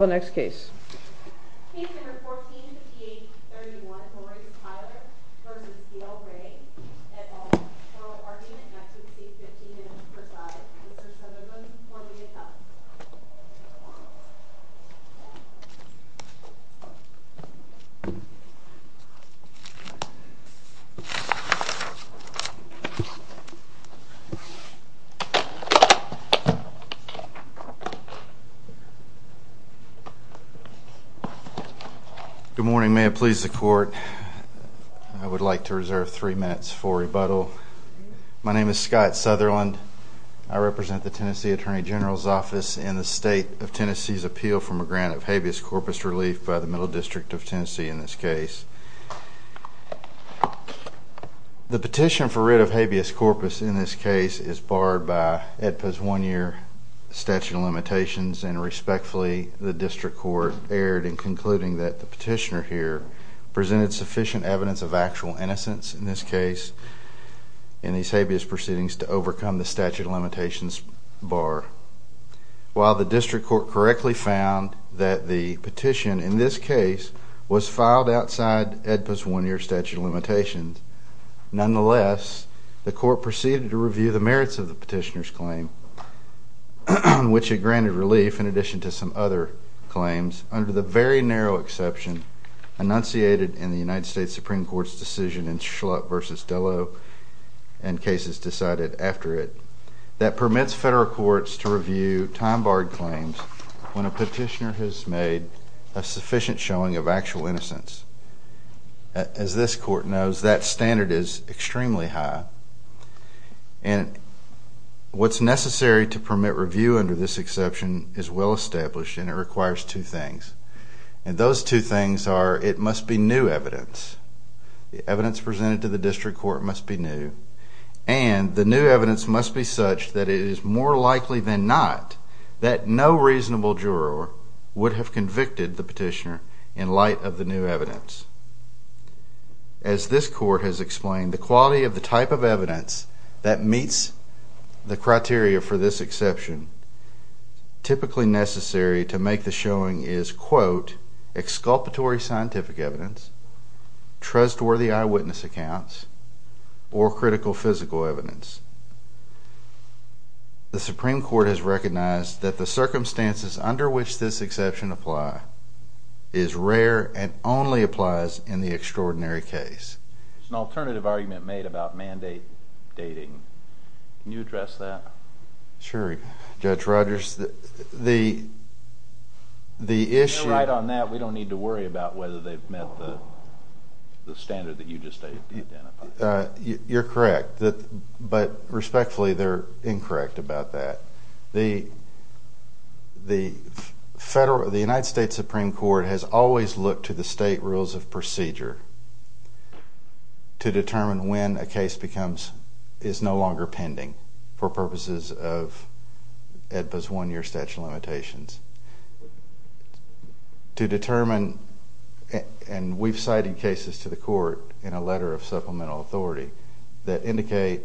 The next case. Case number 145831, Horace Tyler v. Gayle Ray, et al. Federal argument not to exceed 15 minutes per side. Mr. Sutherland will be next. Good morning. May it please the court, I would like to reserve three minutes for rebuttal. My name is Scott Sutherland. I represent the Tennessee Attorney General's Office in the State of Tennessee's appeal for a grant of habeas corpus relief by the Middle District of Tennessee in this case. The petition for writ of habeas corpus in this case is barred by AEDPA's one-year statute of limitations and respectfully the district court erred in concluding that the petitioner here presented sufficient evidence of actual innocence in this case in these habeas proceedings to overcome the statute of limitations bar. While the district court correctly found that the petition in this case was filed outside AEDPA's one-year statute of limitations, nonetheless, the court proceeded to review the merits of the petitioner's claim, which it granted relief in addition to some other claims under the very narrow exception enunciated in the United States Supreme Court's decision in Schlupp v. Dello and cases decided after it that permits federal courts to review time-barred claims when a petitioner has made a sufficient showing of actual innocence. As this court knows, that standard is extremely high and what's necessary to permit review under this exception is well established and it requires two things. And those two things are it must be new evidence. The evidence presented to the district court must be new and the new evidence must be such that it is more likely than not that no reasonable juror would have convicted the petitioner in light of the new evidence. As this court has explained, the quality of the type of evidence that meets the criteria for this exception typically necessary to make the showing is, quote, exculpatory scientific evidence, trustworthy eyewitness accounts, or critical physical evidence. The Supreme Court has recognized that the circumstances under which this exception apply is rare and only applies in the extraordinary case. There's an alternative argument made about mandate dating. Can you address that? Sure, Judge Rogers. The issue You're right on that. We don't need to worry about whether they've met the standard that you just identified. You're correct. But respectfully, they're incorrect about that. The United States Supreme Court has always looked to the state rules of procedure to determine when a case is no longer pending for purposes of AEDPA's one-year statute of limitations. We've cited cases to the court in a letter of supplemental authority that indicate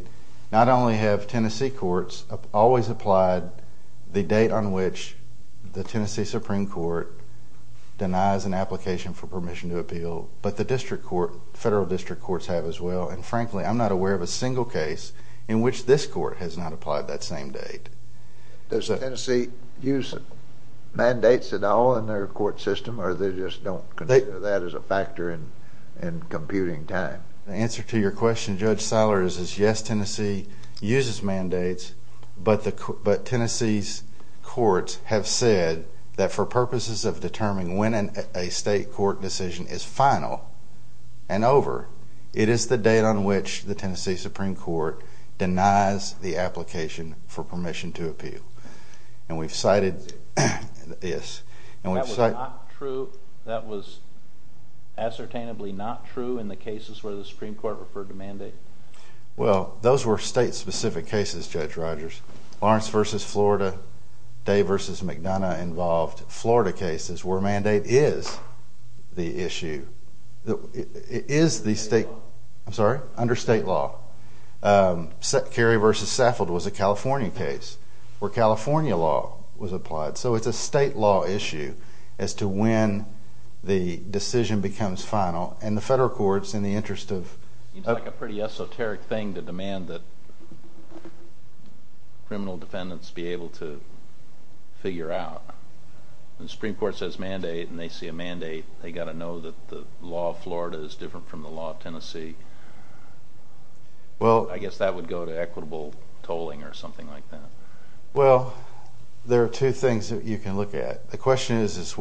not only have Tennessee courts always applied the date on which the Tennessee Supreme Court denies an application for permission to appeal, but the federal district courts have as well. Frankly, I'm not aware of a single case in which this court has not applied that same date. Does Tennessee use mandates at all in their court system, or they just don't consider that as a factor in computing time? The answer to your question, Judge Sellers, is yes, Tennessee uses mandates, but Tennessee's courts have said that for purposes of determining when a state court decision is final and over, it is the date on which the Tennessee Supreme Court denies the application for permission to appeal. That was ascertainably not true in the cases where the Supreme Court referred to mandate? Well, those were state-specific cases, Judge Rogers. Lawrence v. Florida, Day v. McDonough involved Florida cases where mandate is the issue. It is under state law. Kerry v. Saffold was a California case where California law was applied, so it's a state law issue as to when the decision becomes final. It seems like a pretty esoteric thing to demand that criminal defendants be able to figure out. When the Supreme Court says mandate and they see a mandate, they've got to know that the law of Florida is different from the law of Tennessee. I guess that would go to equitable tolling or something like that. Well, there are two things that you can look at. It's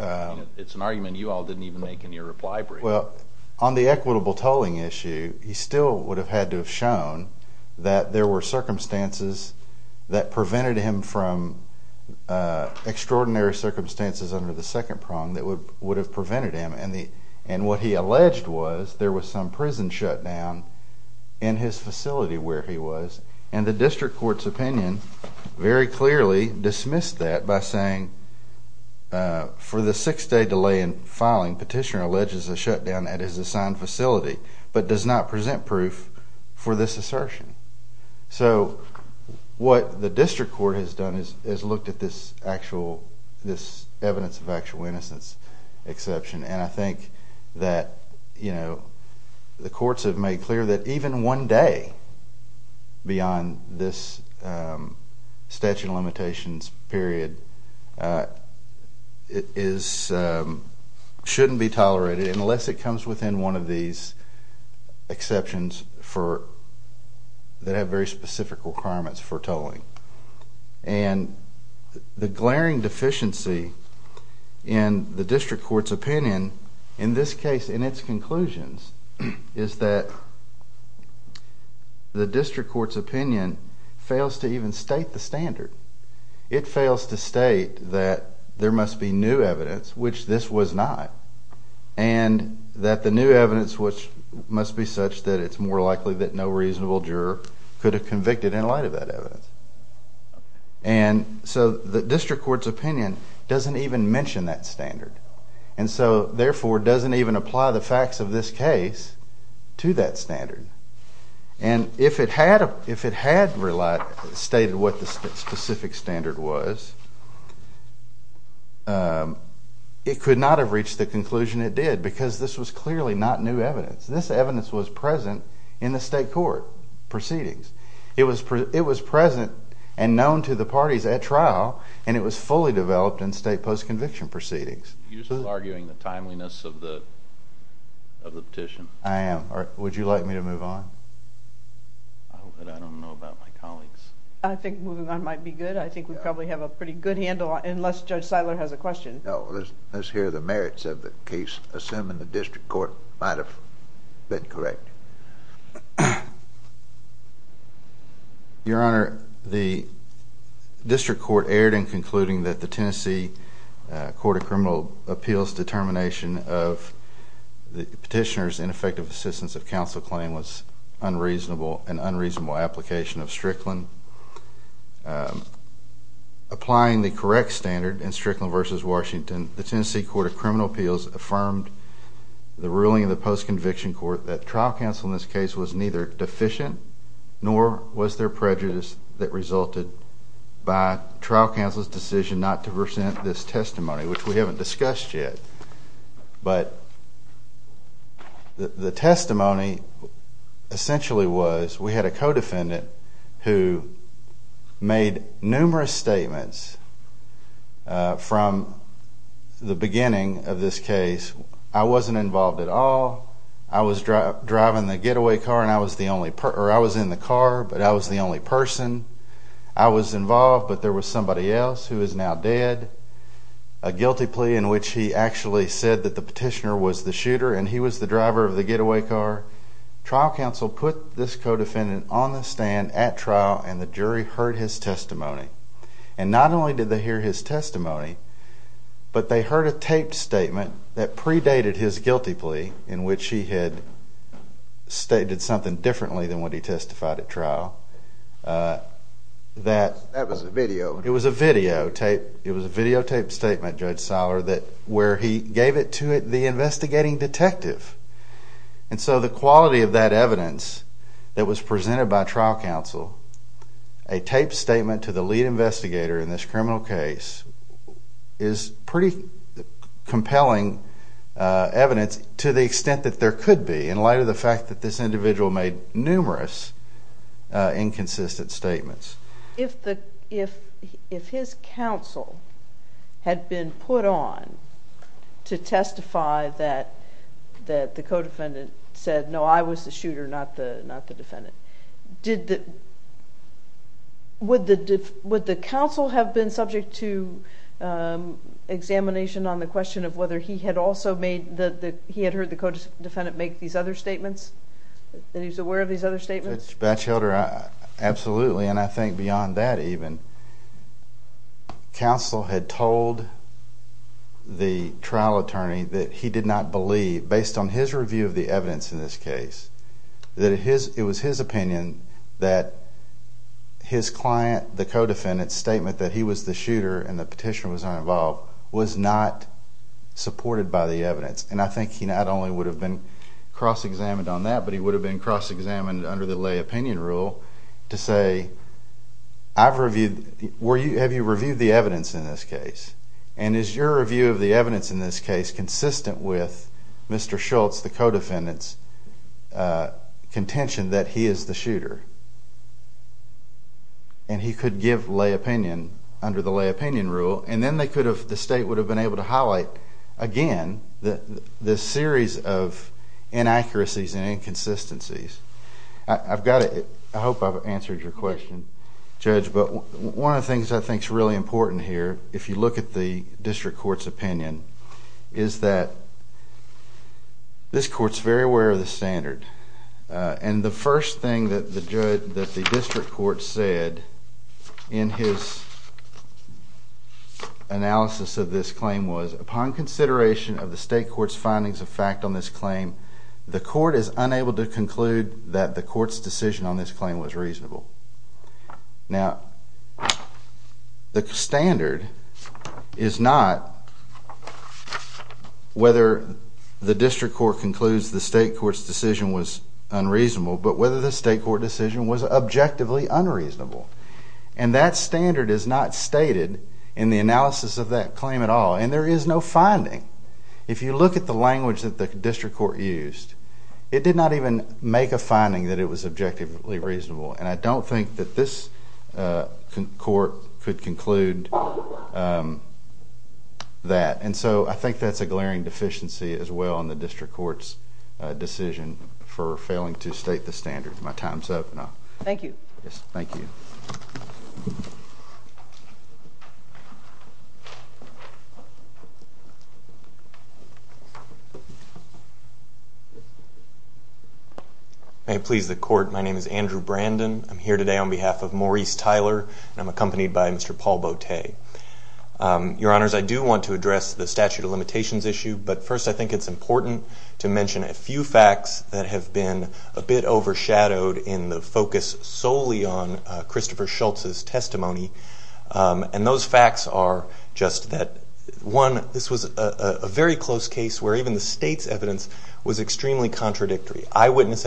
an argument you all didn't even make in your reply brief. Well, on the equitable tolling issue, he still would have had to have shown that there were circumstances that prevented him from extraordinary circumstances under the second prong that would have prevented him. And what he alleged was there was some prison shutdown in his facility where he was, and the district court's opinion very clearly dismissed that by saying, for the six-day delay in filing, petitioner alleges a shutdown at his assigned facility but does not present proof for this assertion. So what the district court has done is looked at this evidence of actual innocence exception, and I think that the courts have made clear that even one day beyond this statute of limitations period shouldn't be tolerated unless it comes within one of these exceptions that have very specific requirements for tolling. And the glaring deficiency in the district court's opinion in this case, in its conclusions, is that the district court's opinion fails to even state the standard. It fails to state that there must be new evidence, which this was not, and that the new evidence, which must be such that it's more likely that no reasonable juror could have convicted in light of that evidence. And so the district court's opinion doesn't even mention that standard, and so therefore doesn't even apply the facts of this case to that standard. And if it had stated what the specific standard was, it could not have reached the conclusion it did because this was clearly not new evidence. This evidence was present in the state court proceedings. It was present and known to the parties at trial, and it was fully developed in state post-conviction proceedings. You're still arguing the timeliness of the petition. I am. Would you like me to move on? I don't know about my colleagues. I think moving on might be good. I think we probably have a pretty good handle unless Judge Seiler has a question. No, let's hear the merits of the case, assuming the district court might have been correct. Your Honor, the district court erred in concluding that the Tennessee Court of Criminal Appeals determination of the petitioner's ineffective assistance of counsel claim was an unreasonable application of Strickland. Applying the correct standard in Strickland v. Washington, the Tennessee Court of Criminal Appeals affirmed the ruling of the post-conviction court that trial counsel in this case was neither deficient nor was there prejudice that resulted by trial counsel's decision not to present this testimony, which we haven't discussed yet. But the testimony essentially was we had a co-defendant who made numerous statements from the beginning of this case, I wasn't involved at all, I was driving the getaway car and I was in the car but I was the only person, I was involved but there was somebody else who is now dead, a guilty plea in which he actually said that the petitioner was the shooter and he was the driver of the getaway car. Trial counsel put this co-defendant on the stand at trial and the jury heard his testimony. And not only did they hear his testimony, but they heard a taped statement that predated his guilty plea in which he had stated something differently than what he testified at trial. That was a video. It was a videotaped statement, Judge Seiler, where he gave it to the investigating detective. And so the quality of that evidence that was presented by trial counsel, a taped statement to the lead investigator in this criminal case, is pretty compelling evidence to the extent that there could be in light of the fact that this individual made numerous inconsistent statements. If his counsel had been put on to testify that the co-defendant said, no, I was the shooter, not the defendant, would the counsel have been subject to examination on the question of whether he had also made, he had heard the co-defendant make these other statements, that he was aware of these other statements? Judge Batchelder, absolutely. And I think beyond that even, counsel had told the trial attorney that he did not believe, based on his review of the evidence in this case, that it was his opinion that his client, the co-defendant's statement, that he was the shooter and the petitioner was not involved, was not supported by the evidence. And I think he not only would have been cross-examined on that, but he would have been cross-examined under the lay opinion rule to say, I've reviewed, have you reviewed the evidence in this case? And is your review of the evidence in this case consistent with Mr. Schultz, the co-defendant's contention that he is the shooter? And he could give lay opinion under the lay opinion rule, and then they could have, the state would have been able to highlight again the series of inaccuracies and inconsistencies. I've got to, I hope I've answered your question, Judge, but one of the things I think is really important here, if you look at the district court's opinion, is that this court's very aware of the standard. And the first thing that the district court said in his analysis of this claim was, upon consideration of the state court's findings of fact on this claim, the court is unable to conclude that the court's decision on this claim was reasonable. Now, the standard is not whether the district court concludes the state court's decision was unreasonable, but whether the state court decision was objectively unreasonable. And that standard is not stated in the analysis of that claim at all, and there is no finding. If you look at the language that the district court used, it did not even make a finding that it was objectively reasonable, and I don't think that this court could conclude that. And so I think that's a glaring deficiency as well in the district court's decision for failing to state the standard. My time's up. Thank you. Thank you. Thank you. May it please the court, my name is Andrew Brandon. I'm here today on behalf of Maurice Tyler, and I'm accompanied by Mr. Paul Botté. Your Honors, I do want to address the statute of limitations issue, but first I think it's important to mention a few facts that have been a bit overshadowed in the focus solely on Christopher Schultz's testimony, and those facts are just that, one, this was a very close case where even the state's evidence was extremely contradictory. Eyewitness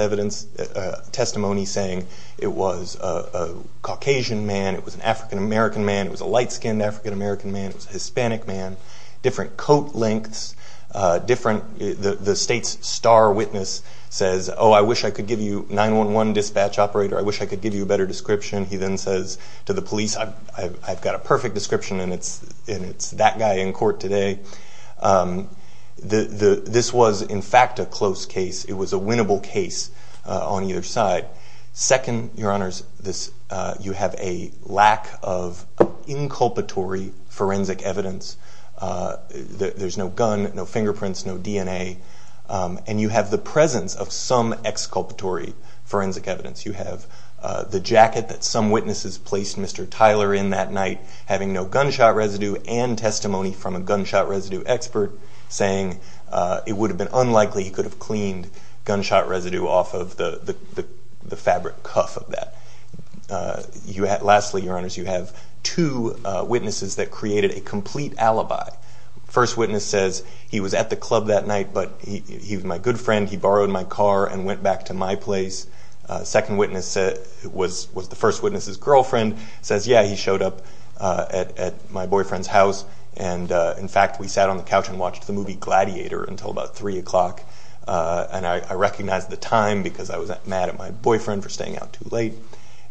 testimony saying it was a Caucasian man, it was an African-American man, it was a light-skinned African-American man, it was a Hispanic man, different coat lengths, the state's star witness says, oh, I wish I could give you 911 dispatch operator, I wish I could give you a better description. He then says to the police, I've got a perfect description, and it's that guy in court today. This was, in fact, a close case. It was a winnable case on either side. Second, Your Honors, you have a lack of inculpatory forensic evidence. There's no gun, no fingerprints, no DNA, and you have the presence of some exculpatory forensic evidence. You have the jacket that some witnesses placed Mr. Tyler in that night, having no gunshot residue and testimony from a gunshot residue expert saying it would have been unlikely he could have cleaned gunshot residue off of the fabric cuff of that. Lastly, Your Honors, you have two witnesses that created a complete alibi. First witness says he was at the club that night, but he was my good friend, he borrowed my car and went back to my place. Second witness was the first witness's girlfriend, says, yeah, he showed up at my boyfriend's house, and, in fact, we sat on the couch and watched the movie Gladiator until about 3 o'clock, and I recognized the time because I was mad at my boyfriend for staying out too late.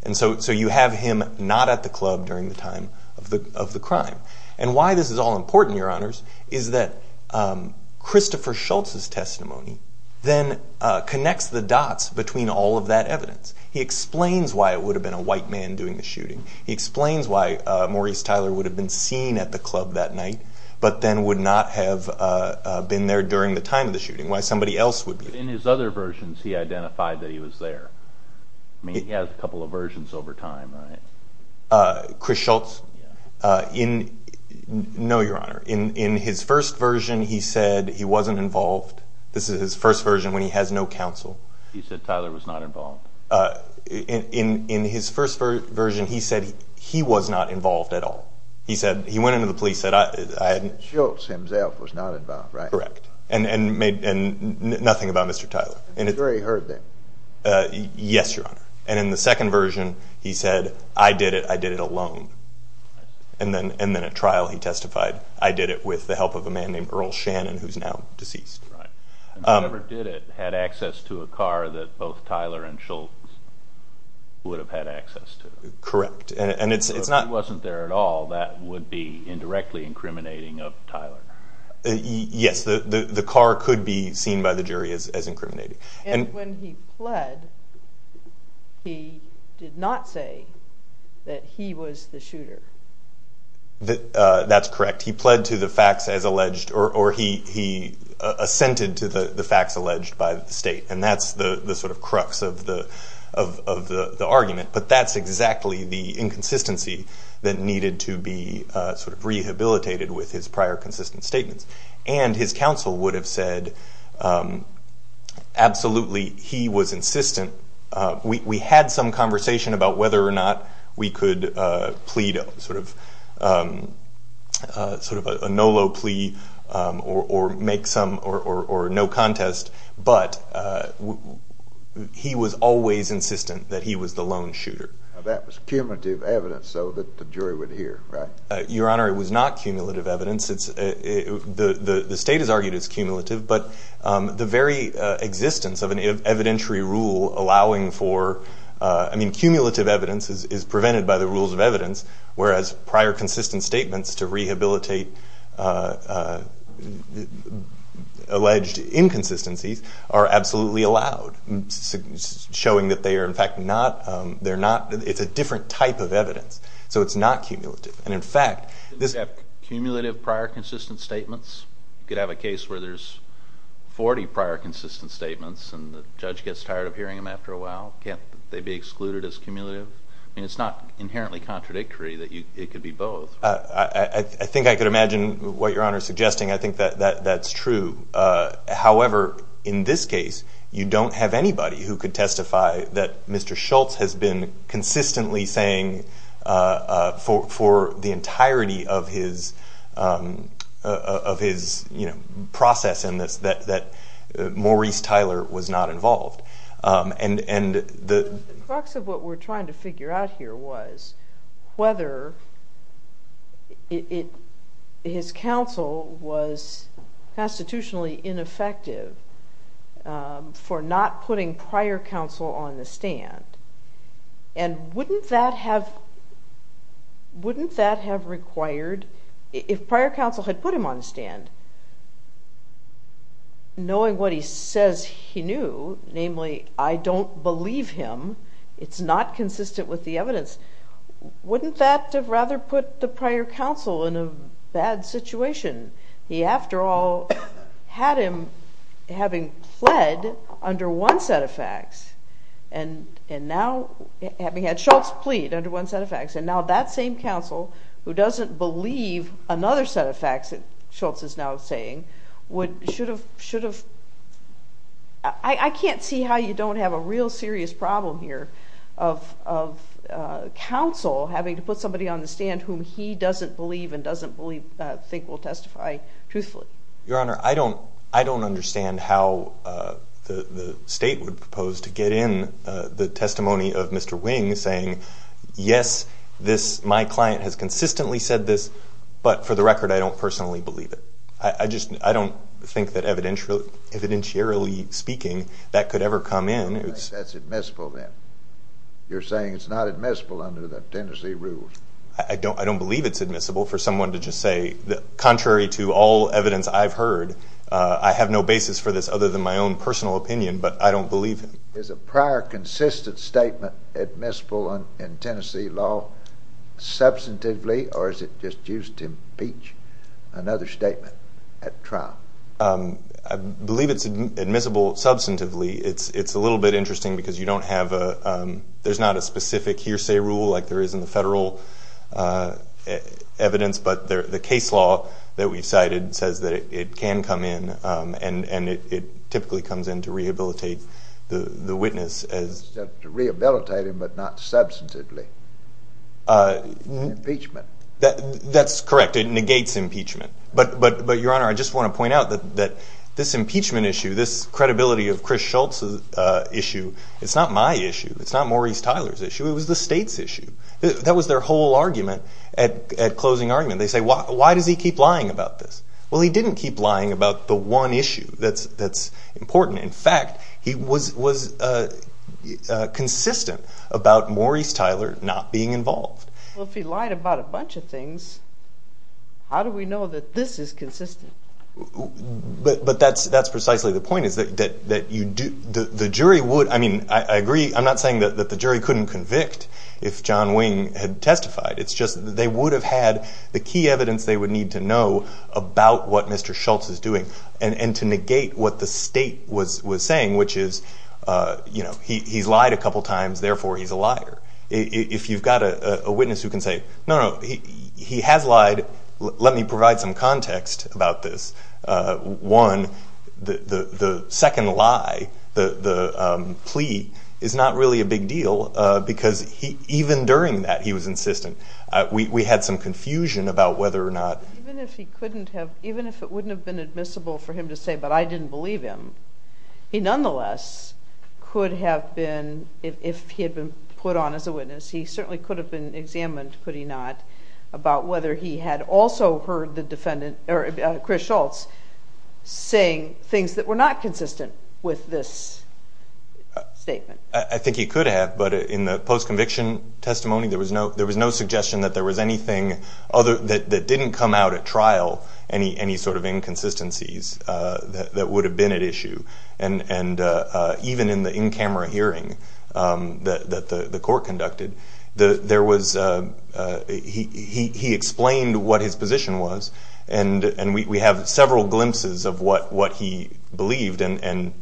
And so you have him not at the club during the time of the crime. And why this is all important, Your Honors, is that Christopher Schultz's testimony then connects the dots between all of that evidence. He explains why it would have been a white man doing the shooting. He explains why Maurice Tyler would have been seen at the club that night but then would not have been there during the time of the shooting, why somebody else would be there. But in his other versions, he identified that he was there. I mean, he has a couple of versions over time, right? Chris Schultz? No, Your Honor. In his first version, he said he wasn't involved. This is his first version when he has no counsel. He said Tyler was not involved. In his first version, he said he was not involved at all. He went into the police and said I hadn't... Schultz himself was not involved, right? Correct. And nothing about Mr. Tyler. The jury heard that. Yes, Your Honor. And in the second version, he said, I did it, I did it alone. And then at trial he testified, I did it with the help of a man named Earl Shannon who is now deceased. Right. Whoever did it had access to a car that both Tyler and Schultz would have had access to. Correct. If he wasn't there at all, that would be indirectly incriminating of Tyler. Yes, the car could be seen by the jury as incriminating. And when he pled, he did not say that he was the shooter. That's correct. He pled to the facts as alleged, or he assented to the facts alleged by the state, and that's the sort of crux of the argument. But that's exactly the inconsistency that needed to be sort of rehabilitated with his prior consistent statements. And his counsel would have said, absolutely, he was insistent. We had some conversation about whether or not we could plead sort of a no low plea or make some or no contest, but he was always insistent that he was the lone shooter. That was cumulative evidence, though, that the jury would hear, right? Your Honor, it was not cumulative evidence. The state has argued it's cumulative, but the very existence of an evidentiary rule allowing for, I mean, cumulative evidence is prevented by the rules of evidence, whereas prior consistent statements to rehabilitate alleged inconsistencies are absolutely allowed, showing that they are, in fact, not. It's a different type of evidence, so it's not cumulative. And, in fact, this is cumulative prior consistent statements. You could have a case where there's 40 prior consistent statements and the judge gets tired of hearing them after a while. Can't they be excluded as cumulative? I mean, it's not inherently contradictory that it could be both. I think I could imagine what Your Honor is suggesting. I think that that's true. However, in this case, you don't have anybody who could testify that Mr. Schultz has been consistently saying for the entirety of his process in this that Maurice Tyler was not involved. The crux of what we're trying to figure out here was whether his counsel was constitutionally ineffective for not putting prior counsel on the stand. And wouldn't that have required, if prior counsel had put him on the stand, knowing what he says he knew, namely, I don't believe him, wouldn't that have rather put the prior counsel in a bad situation? He, after all, had him having pled under one set of facts and now having had Schultz plead under one set of facts. And now that same counsel, who doesn't believe another set of facts that Schultz is now saying, should have… I can't see how you don't have a real serious problem here of counsel having to put somebody on the stand whom he doesn't believe and doesn't think will testify truthfully. Your Honor, I don't understand how the state would propose to get in the testimony of Mr. Wing saying, yes, my client has consistently said this, but for the record, I don't personally believe it. I just don't think that evidentiarily speaking that could ever come in. You don't think that's admissible then? You're saying it's not admissible under the Tennessee rules? I don't believe it's admissible for someone to just say, contrary to all evidence I've heard, I have no basis for this other than my own personal opinion, but I don't believe it. Is a prior consistent statement admissible in Tennessee law substantively or is it just used to impeach another statement at trial? I believe it's admissible substantively. It's a little bit interesting because you don't have a… there's not a specific hearsay rule like there is in the federal evidence, but the case law that we've cited says that it can come in and it typically comes in to rehabilitate the witness. To rehabilitate him but not substantively. Impeachment. That's correct. It negates impeachment. But, Your Honor, I just want to point out that this impeachment issue, this credibility of Chris Schultz issue, it's not my issue. It's not Maurice Tyler's issue. It was the state's issue. That was their whole argument at closing argument. They say, why does he keep lying about this? Well, he didn't keep lying about the one issue that's important. In fact, he was consistent about Maurice Tyler not being involved. Well, if he lied about a bunch of things, how do we know that this is consistent? But that's precisely the point is that the jury would… I mean, I agree. I'm not saying that the jury couldn't convict if John Wing had testified. It's just they would have had the key evidence they would need to know about what Mr. Schultz is doing and to negate what the state was saying, which is he's lied a couple times, therefore he's a liar. If you've got a witness who can say, no, no, he has lied. Let me provide some context about this. One, the second lie, the plea, is not really a big deal because even during that he was insistent. We had some confusion about whether or not… Even if it wouldn't have been admissible for him to say, but I didn't believe him, he nonetheless could have been, if he had been put on as a witness, he certainly could have been examined, could he not, about whether he had also heard Chris Schultz saying things that were not consistent with this statement. I think he could have, but in the post-conviction testimony there was no suggestion that there was anything that didn't come out at trial, any sort of inconsistencies that would have been at issue. Even in the in-camera hearing that the court conducted, he explained what his position was and we have several glimpses of what he believed and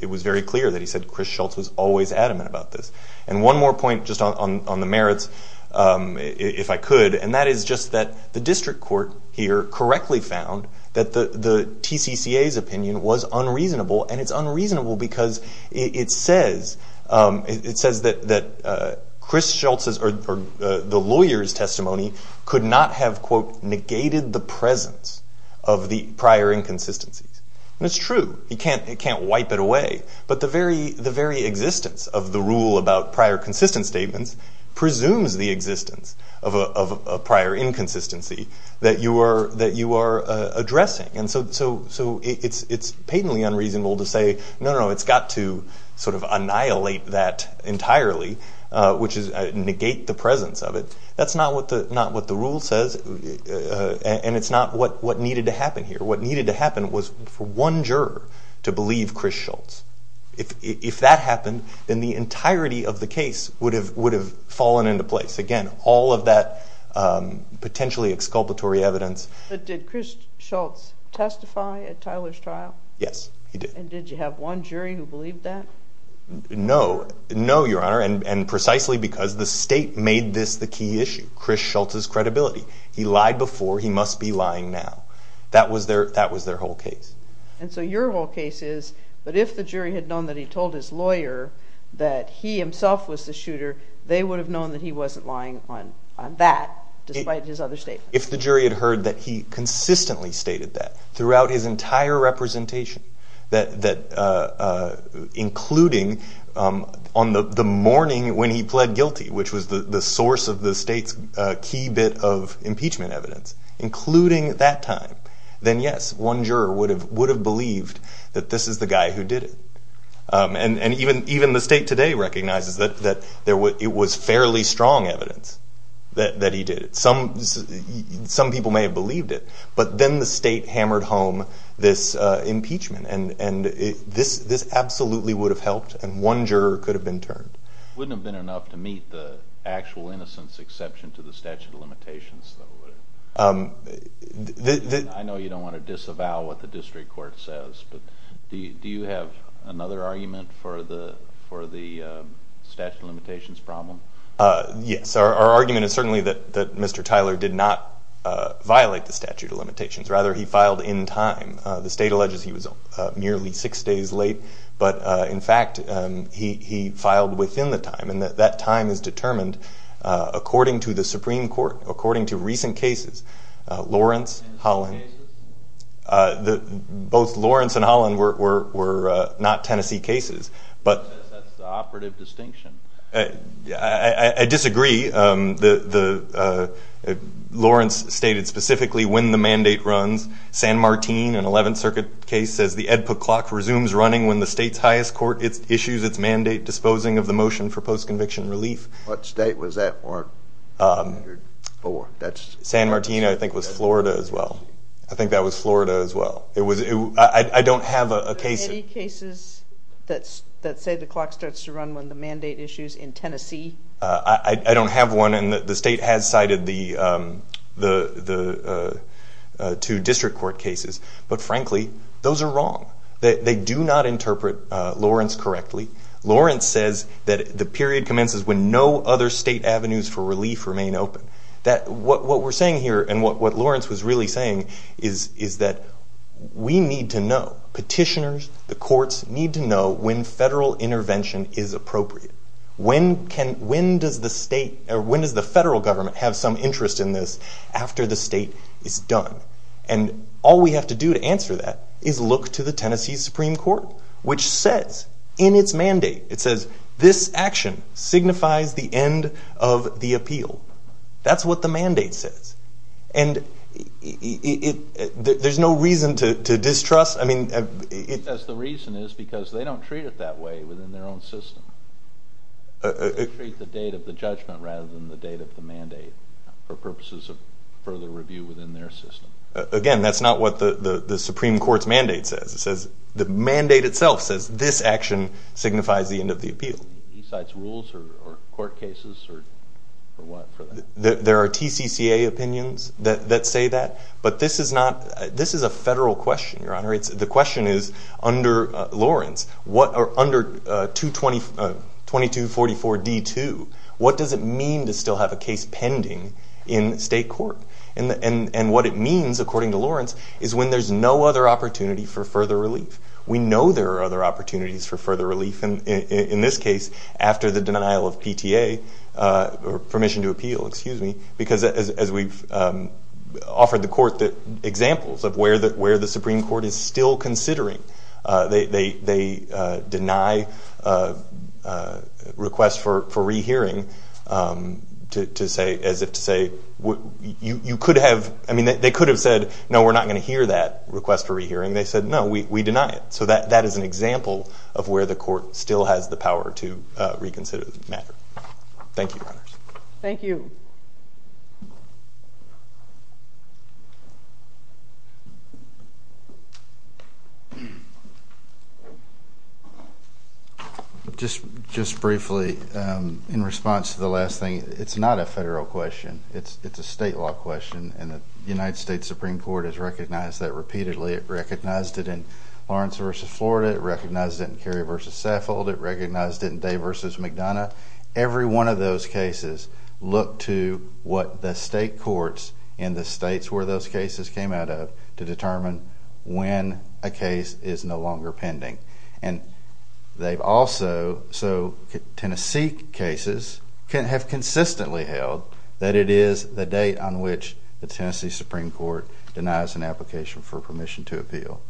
it was very clear that he said Chris Schultz was always adamant about this. And one more point just on the merits, if I could, and that is just that the district court here correctly found that the TCCA's opinion was unreasonable and it's unreasonable because it says that Chris Schultz's or the lawyer's testimony could not have, quote, negated the presence of the prior inconsistencies. And it's true, you can't wipe it away, but the very existence of the rule about prior consistent statements presumes the existence of a prior inconsistency that you are addressing. And so it's patently unreasonable to say, no, no, no, it's got to sort of annihilate that entirely, which is negate the presence of it. That's not what the rule says and it's not what needed to happen here. What needed to happen was for one juror to believe Chris Schultz. If that happened, then the entirety of the case would have fallen into place. Again, all of that potentially exculpatory evidence. But did Chris Schultz testify at Tyler's trial? Yes, he did. And did you have one jury who believed that? No, no, Your Honor, and precisely because the state made this the key issue, Chris Schultz's credibility. He lied before, he must be lying now. That was their whole case. And so your whole case is, but if the jury had known that he told his lawyer that he himself was the shooter, they would have known that he wasn't lying on that despite his other statements. If the jury had heard that he consistently stated that throughout his entire representation, including on the morning when he pled guilty, which was the source of the state's key bit of impeachment evidence, including that time, then yes, one juror would have believed that this is the guy who did it. And even the state today recognizes that it was fairly strong evidence that he did it. Some people may have believed it, but then the state hammered home this impeachment, and this absolutely would have helped, and one juror could have been turned. It wouldn't have been enough to meet the actual innocence exception to the statute of limitations, though, would it? I know you don't want to disavow what the district court says, but do you have another argument for the statute of limitations problem? Yes. Our argument is certainly that Mr. Tyler did not violate the statute of limitations. Rather, he filed in time. The state alleges he was merely six days late, but in fact he filed within the time, and that time is determined according to the Supreme Court, according to recent cases, Lawrence, Holland. Tennessee cases? Both Lawrence and Holland were not Tennessee cases. That's the operative distinction. I disagree. Lawrence stated specifically when the mandate runs. San Martin, an 11th Circuit case, says the EDPA clock resumes running when the state's highest court issues its mandate, disposing of the motion for post-conviction relief. What state was that? San Martin, I think, was Florida as well. I think that was Florida as well. I don't have a case. Are there any cases that say the clock starts to run when the mandate issues in Tennessee? I don't have one, and the state has cited the two district court cases. But, frankly, those are wrong. They do not interpret Lawrence correctly. Lawrence says that the period commences when no other state avenues for relief remain open. What we're saying here, and what Lawrence was really saying, is that we need to know, petitioners, the courts, need to know when federal intervention is appropriate. When does the federal government have some interest in this after the state is done? And all we have to do to answer that is look to the Tennessee Supreme Court, which says in its mandate, it says, this action signifies the end of the appeal. That's what the mandate says. And there's no reason to distrust. It says the reason is because they don't treat it that way within their own system. They treat the date of the judgment rather than the date of the mandate for purposes of further review within their system. Again, that's not what the Supreme Court's mandate says. The mandate itself says this action signifies the end of the appeal. He cites rules or court cases or what for that? There are TCCA opinions that say that. But this is a federal question, Your Honor. The question is, under Lawrence, under 2244D2, what does it mean to still have a case pending in state court? And what it means, according to Lawrence, is when there's no other opportunity for further relief. We know there are other opportunities for further relief, and in this case, after the denial of PTA or permission to appeal, excuse me, because as we've offered the court examples of where the Supreme Court is still considering, they deny requests for rehearing as if to say, you could have, I mean, they could have said, no, we're not going to hear that request for rehearing. They said, no, we deny it. So that is an example of where the court still has the power to reconsider the matter. Thank you, Your Honors. Thank you. Just briefly, in response to the last thing, it's not a federal question. It's a state law question, and the United States Supreme Court has recognized that repeatedly. It recognized it in Lawrence v. Florida. It recognized it in Kerry v. Saffold. It recognized it in Day v. McDonough. Every one of those cases looked to what the state courts in the states where those cases came out of to determine when a case is no longer pending. And they've also, so Tennessee cases have consistently held that it is the date on which the Tennessee Supreme Court denies an application for permission to appeal.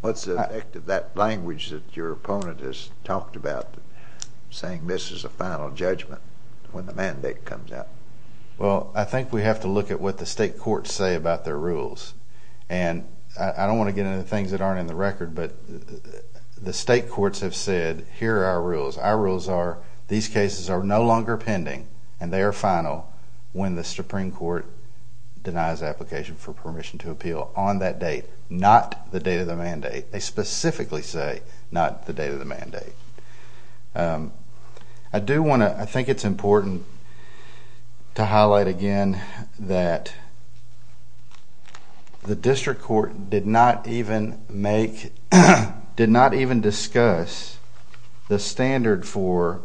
What's the effect of that language that your opponent has talked about, saying this is a final judgment when the mandate comes out? Well, I think we have to look at what the state courts say about their rules. And I don't want to get into things that aren't in the record, but the state courts have said, here are our rules. Our rules are, these cases are no longer pending, and they are final, when the Supreme Court denies application for permission to appeal on that date, not the date of the mandate. They specifically say not the date of the mandate. I do want to, I think it's important to highlight again that the district court did not even make, did not even discuss the standard for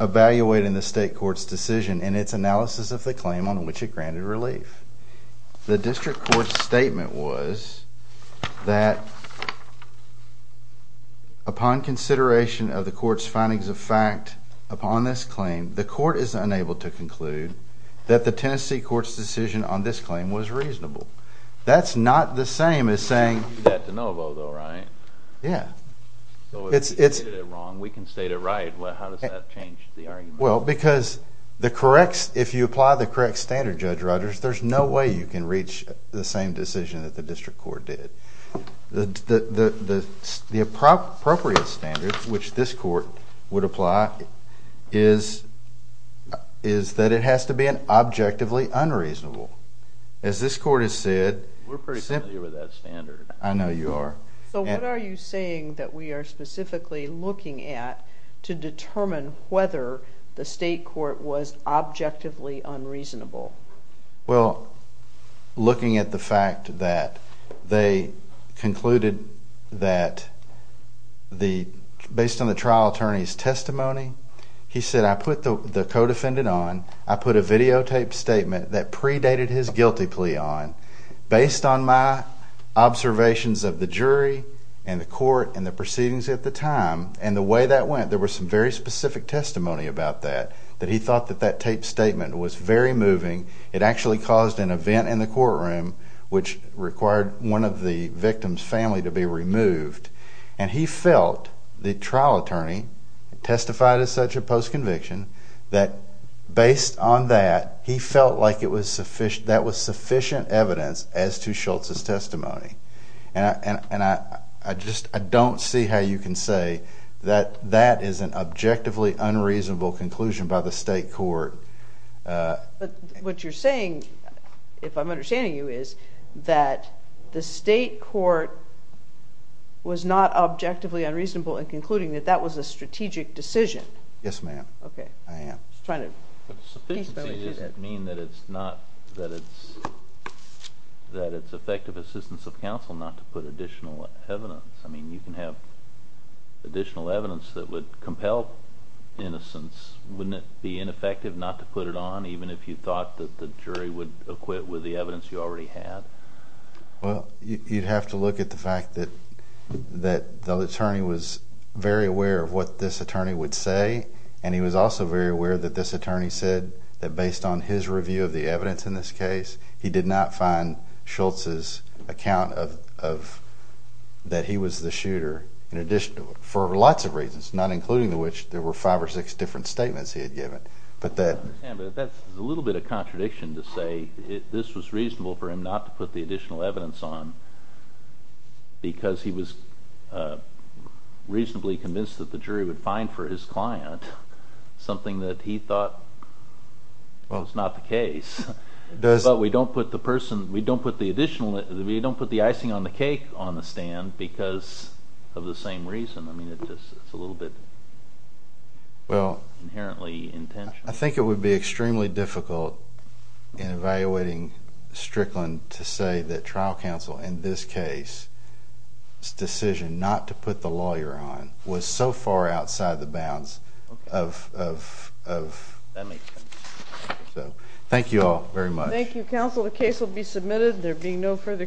evaluating the state court's decision and its analysis of the claim on which it granted relief. The district court's statement was that upon consideration of the court's findings of fact upon this claim, the court is unable to conclude that the Tennessee court's decision on this claim was reasonable. That's not the same as saying... We can do that de novo though, right? Yeah. So if we stated it wrong, we can state it right. How does that change the argument? Well, because if you apply the correct standard, Judge Rogers, there's no way you can reach the same decision that the district court did. The appropriate standard, which this court would apply, is that it has to be an objectively unreasonable. As this court has said... We're pretty familiar with that standard. I know you are. So what are you saying that we are specifically looking at to determine whether the state court was objectively unreasonable? Well, looking at the fact that they concluded that based on the trial attorney's testimony, he said, I put the co-defendant on. I put a videotaped statement that predated his guilty plea on. Based on my observations of the jury and the court and the proceedings at the time and the way that went, there was some very specific testimony about that, that he thought that that taped statement was very moving. It actually caused an event in the courtroom which required one of the victim's family to be removed. And he felt the trial attorney testified as such a post-conviction that based on that, he felt like that was sufficient evidence as to Schultz's testimony. And I just don't see how you can say that that is an objectively unreasonable conclusion by the state court. But what you're saying, if I'm understanding you, is that the state court was not objectively unreasonable in concluding that that was a strategic decision. Yes, ma'am. I am. Sufficiency doesn't mean that it's effective assistance of counsel not to put additional evidence. I mean, you can have additional evidence that would compel innocence. Wouldn't it be ineffective not to put it on, even if you thought that the jury would acquit with the evidence you already had? Well, you'd have to look at the fact that the attorney was very aware of what this attorney would say, and he was also very aware that this attorney said that based on his review of the evidence in this case, he did not find Schultz's account of that he was the shooter, for lots of reasons, not including the which there were five or six different statements he had given. That's a little bit of contradiction to say this was reasonable for him not to put the additional evidence on because he was reasonably convinced that the jury would find for his client something that he thought was not the case. But we don't put the icing on the cake on the stand because of the same reason. I mean, it's a little bit inherently intentional. I think it would be extremely difficult in evaluating Strickland to say that trial counsel in this case's decision not to put the lawyer on was so far outside the bounds of… That makes sense. Thank you all very much. Thank you, counsel. The case will be submitted. There will be no further questions.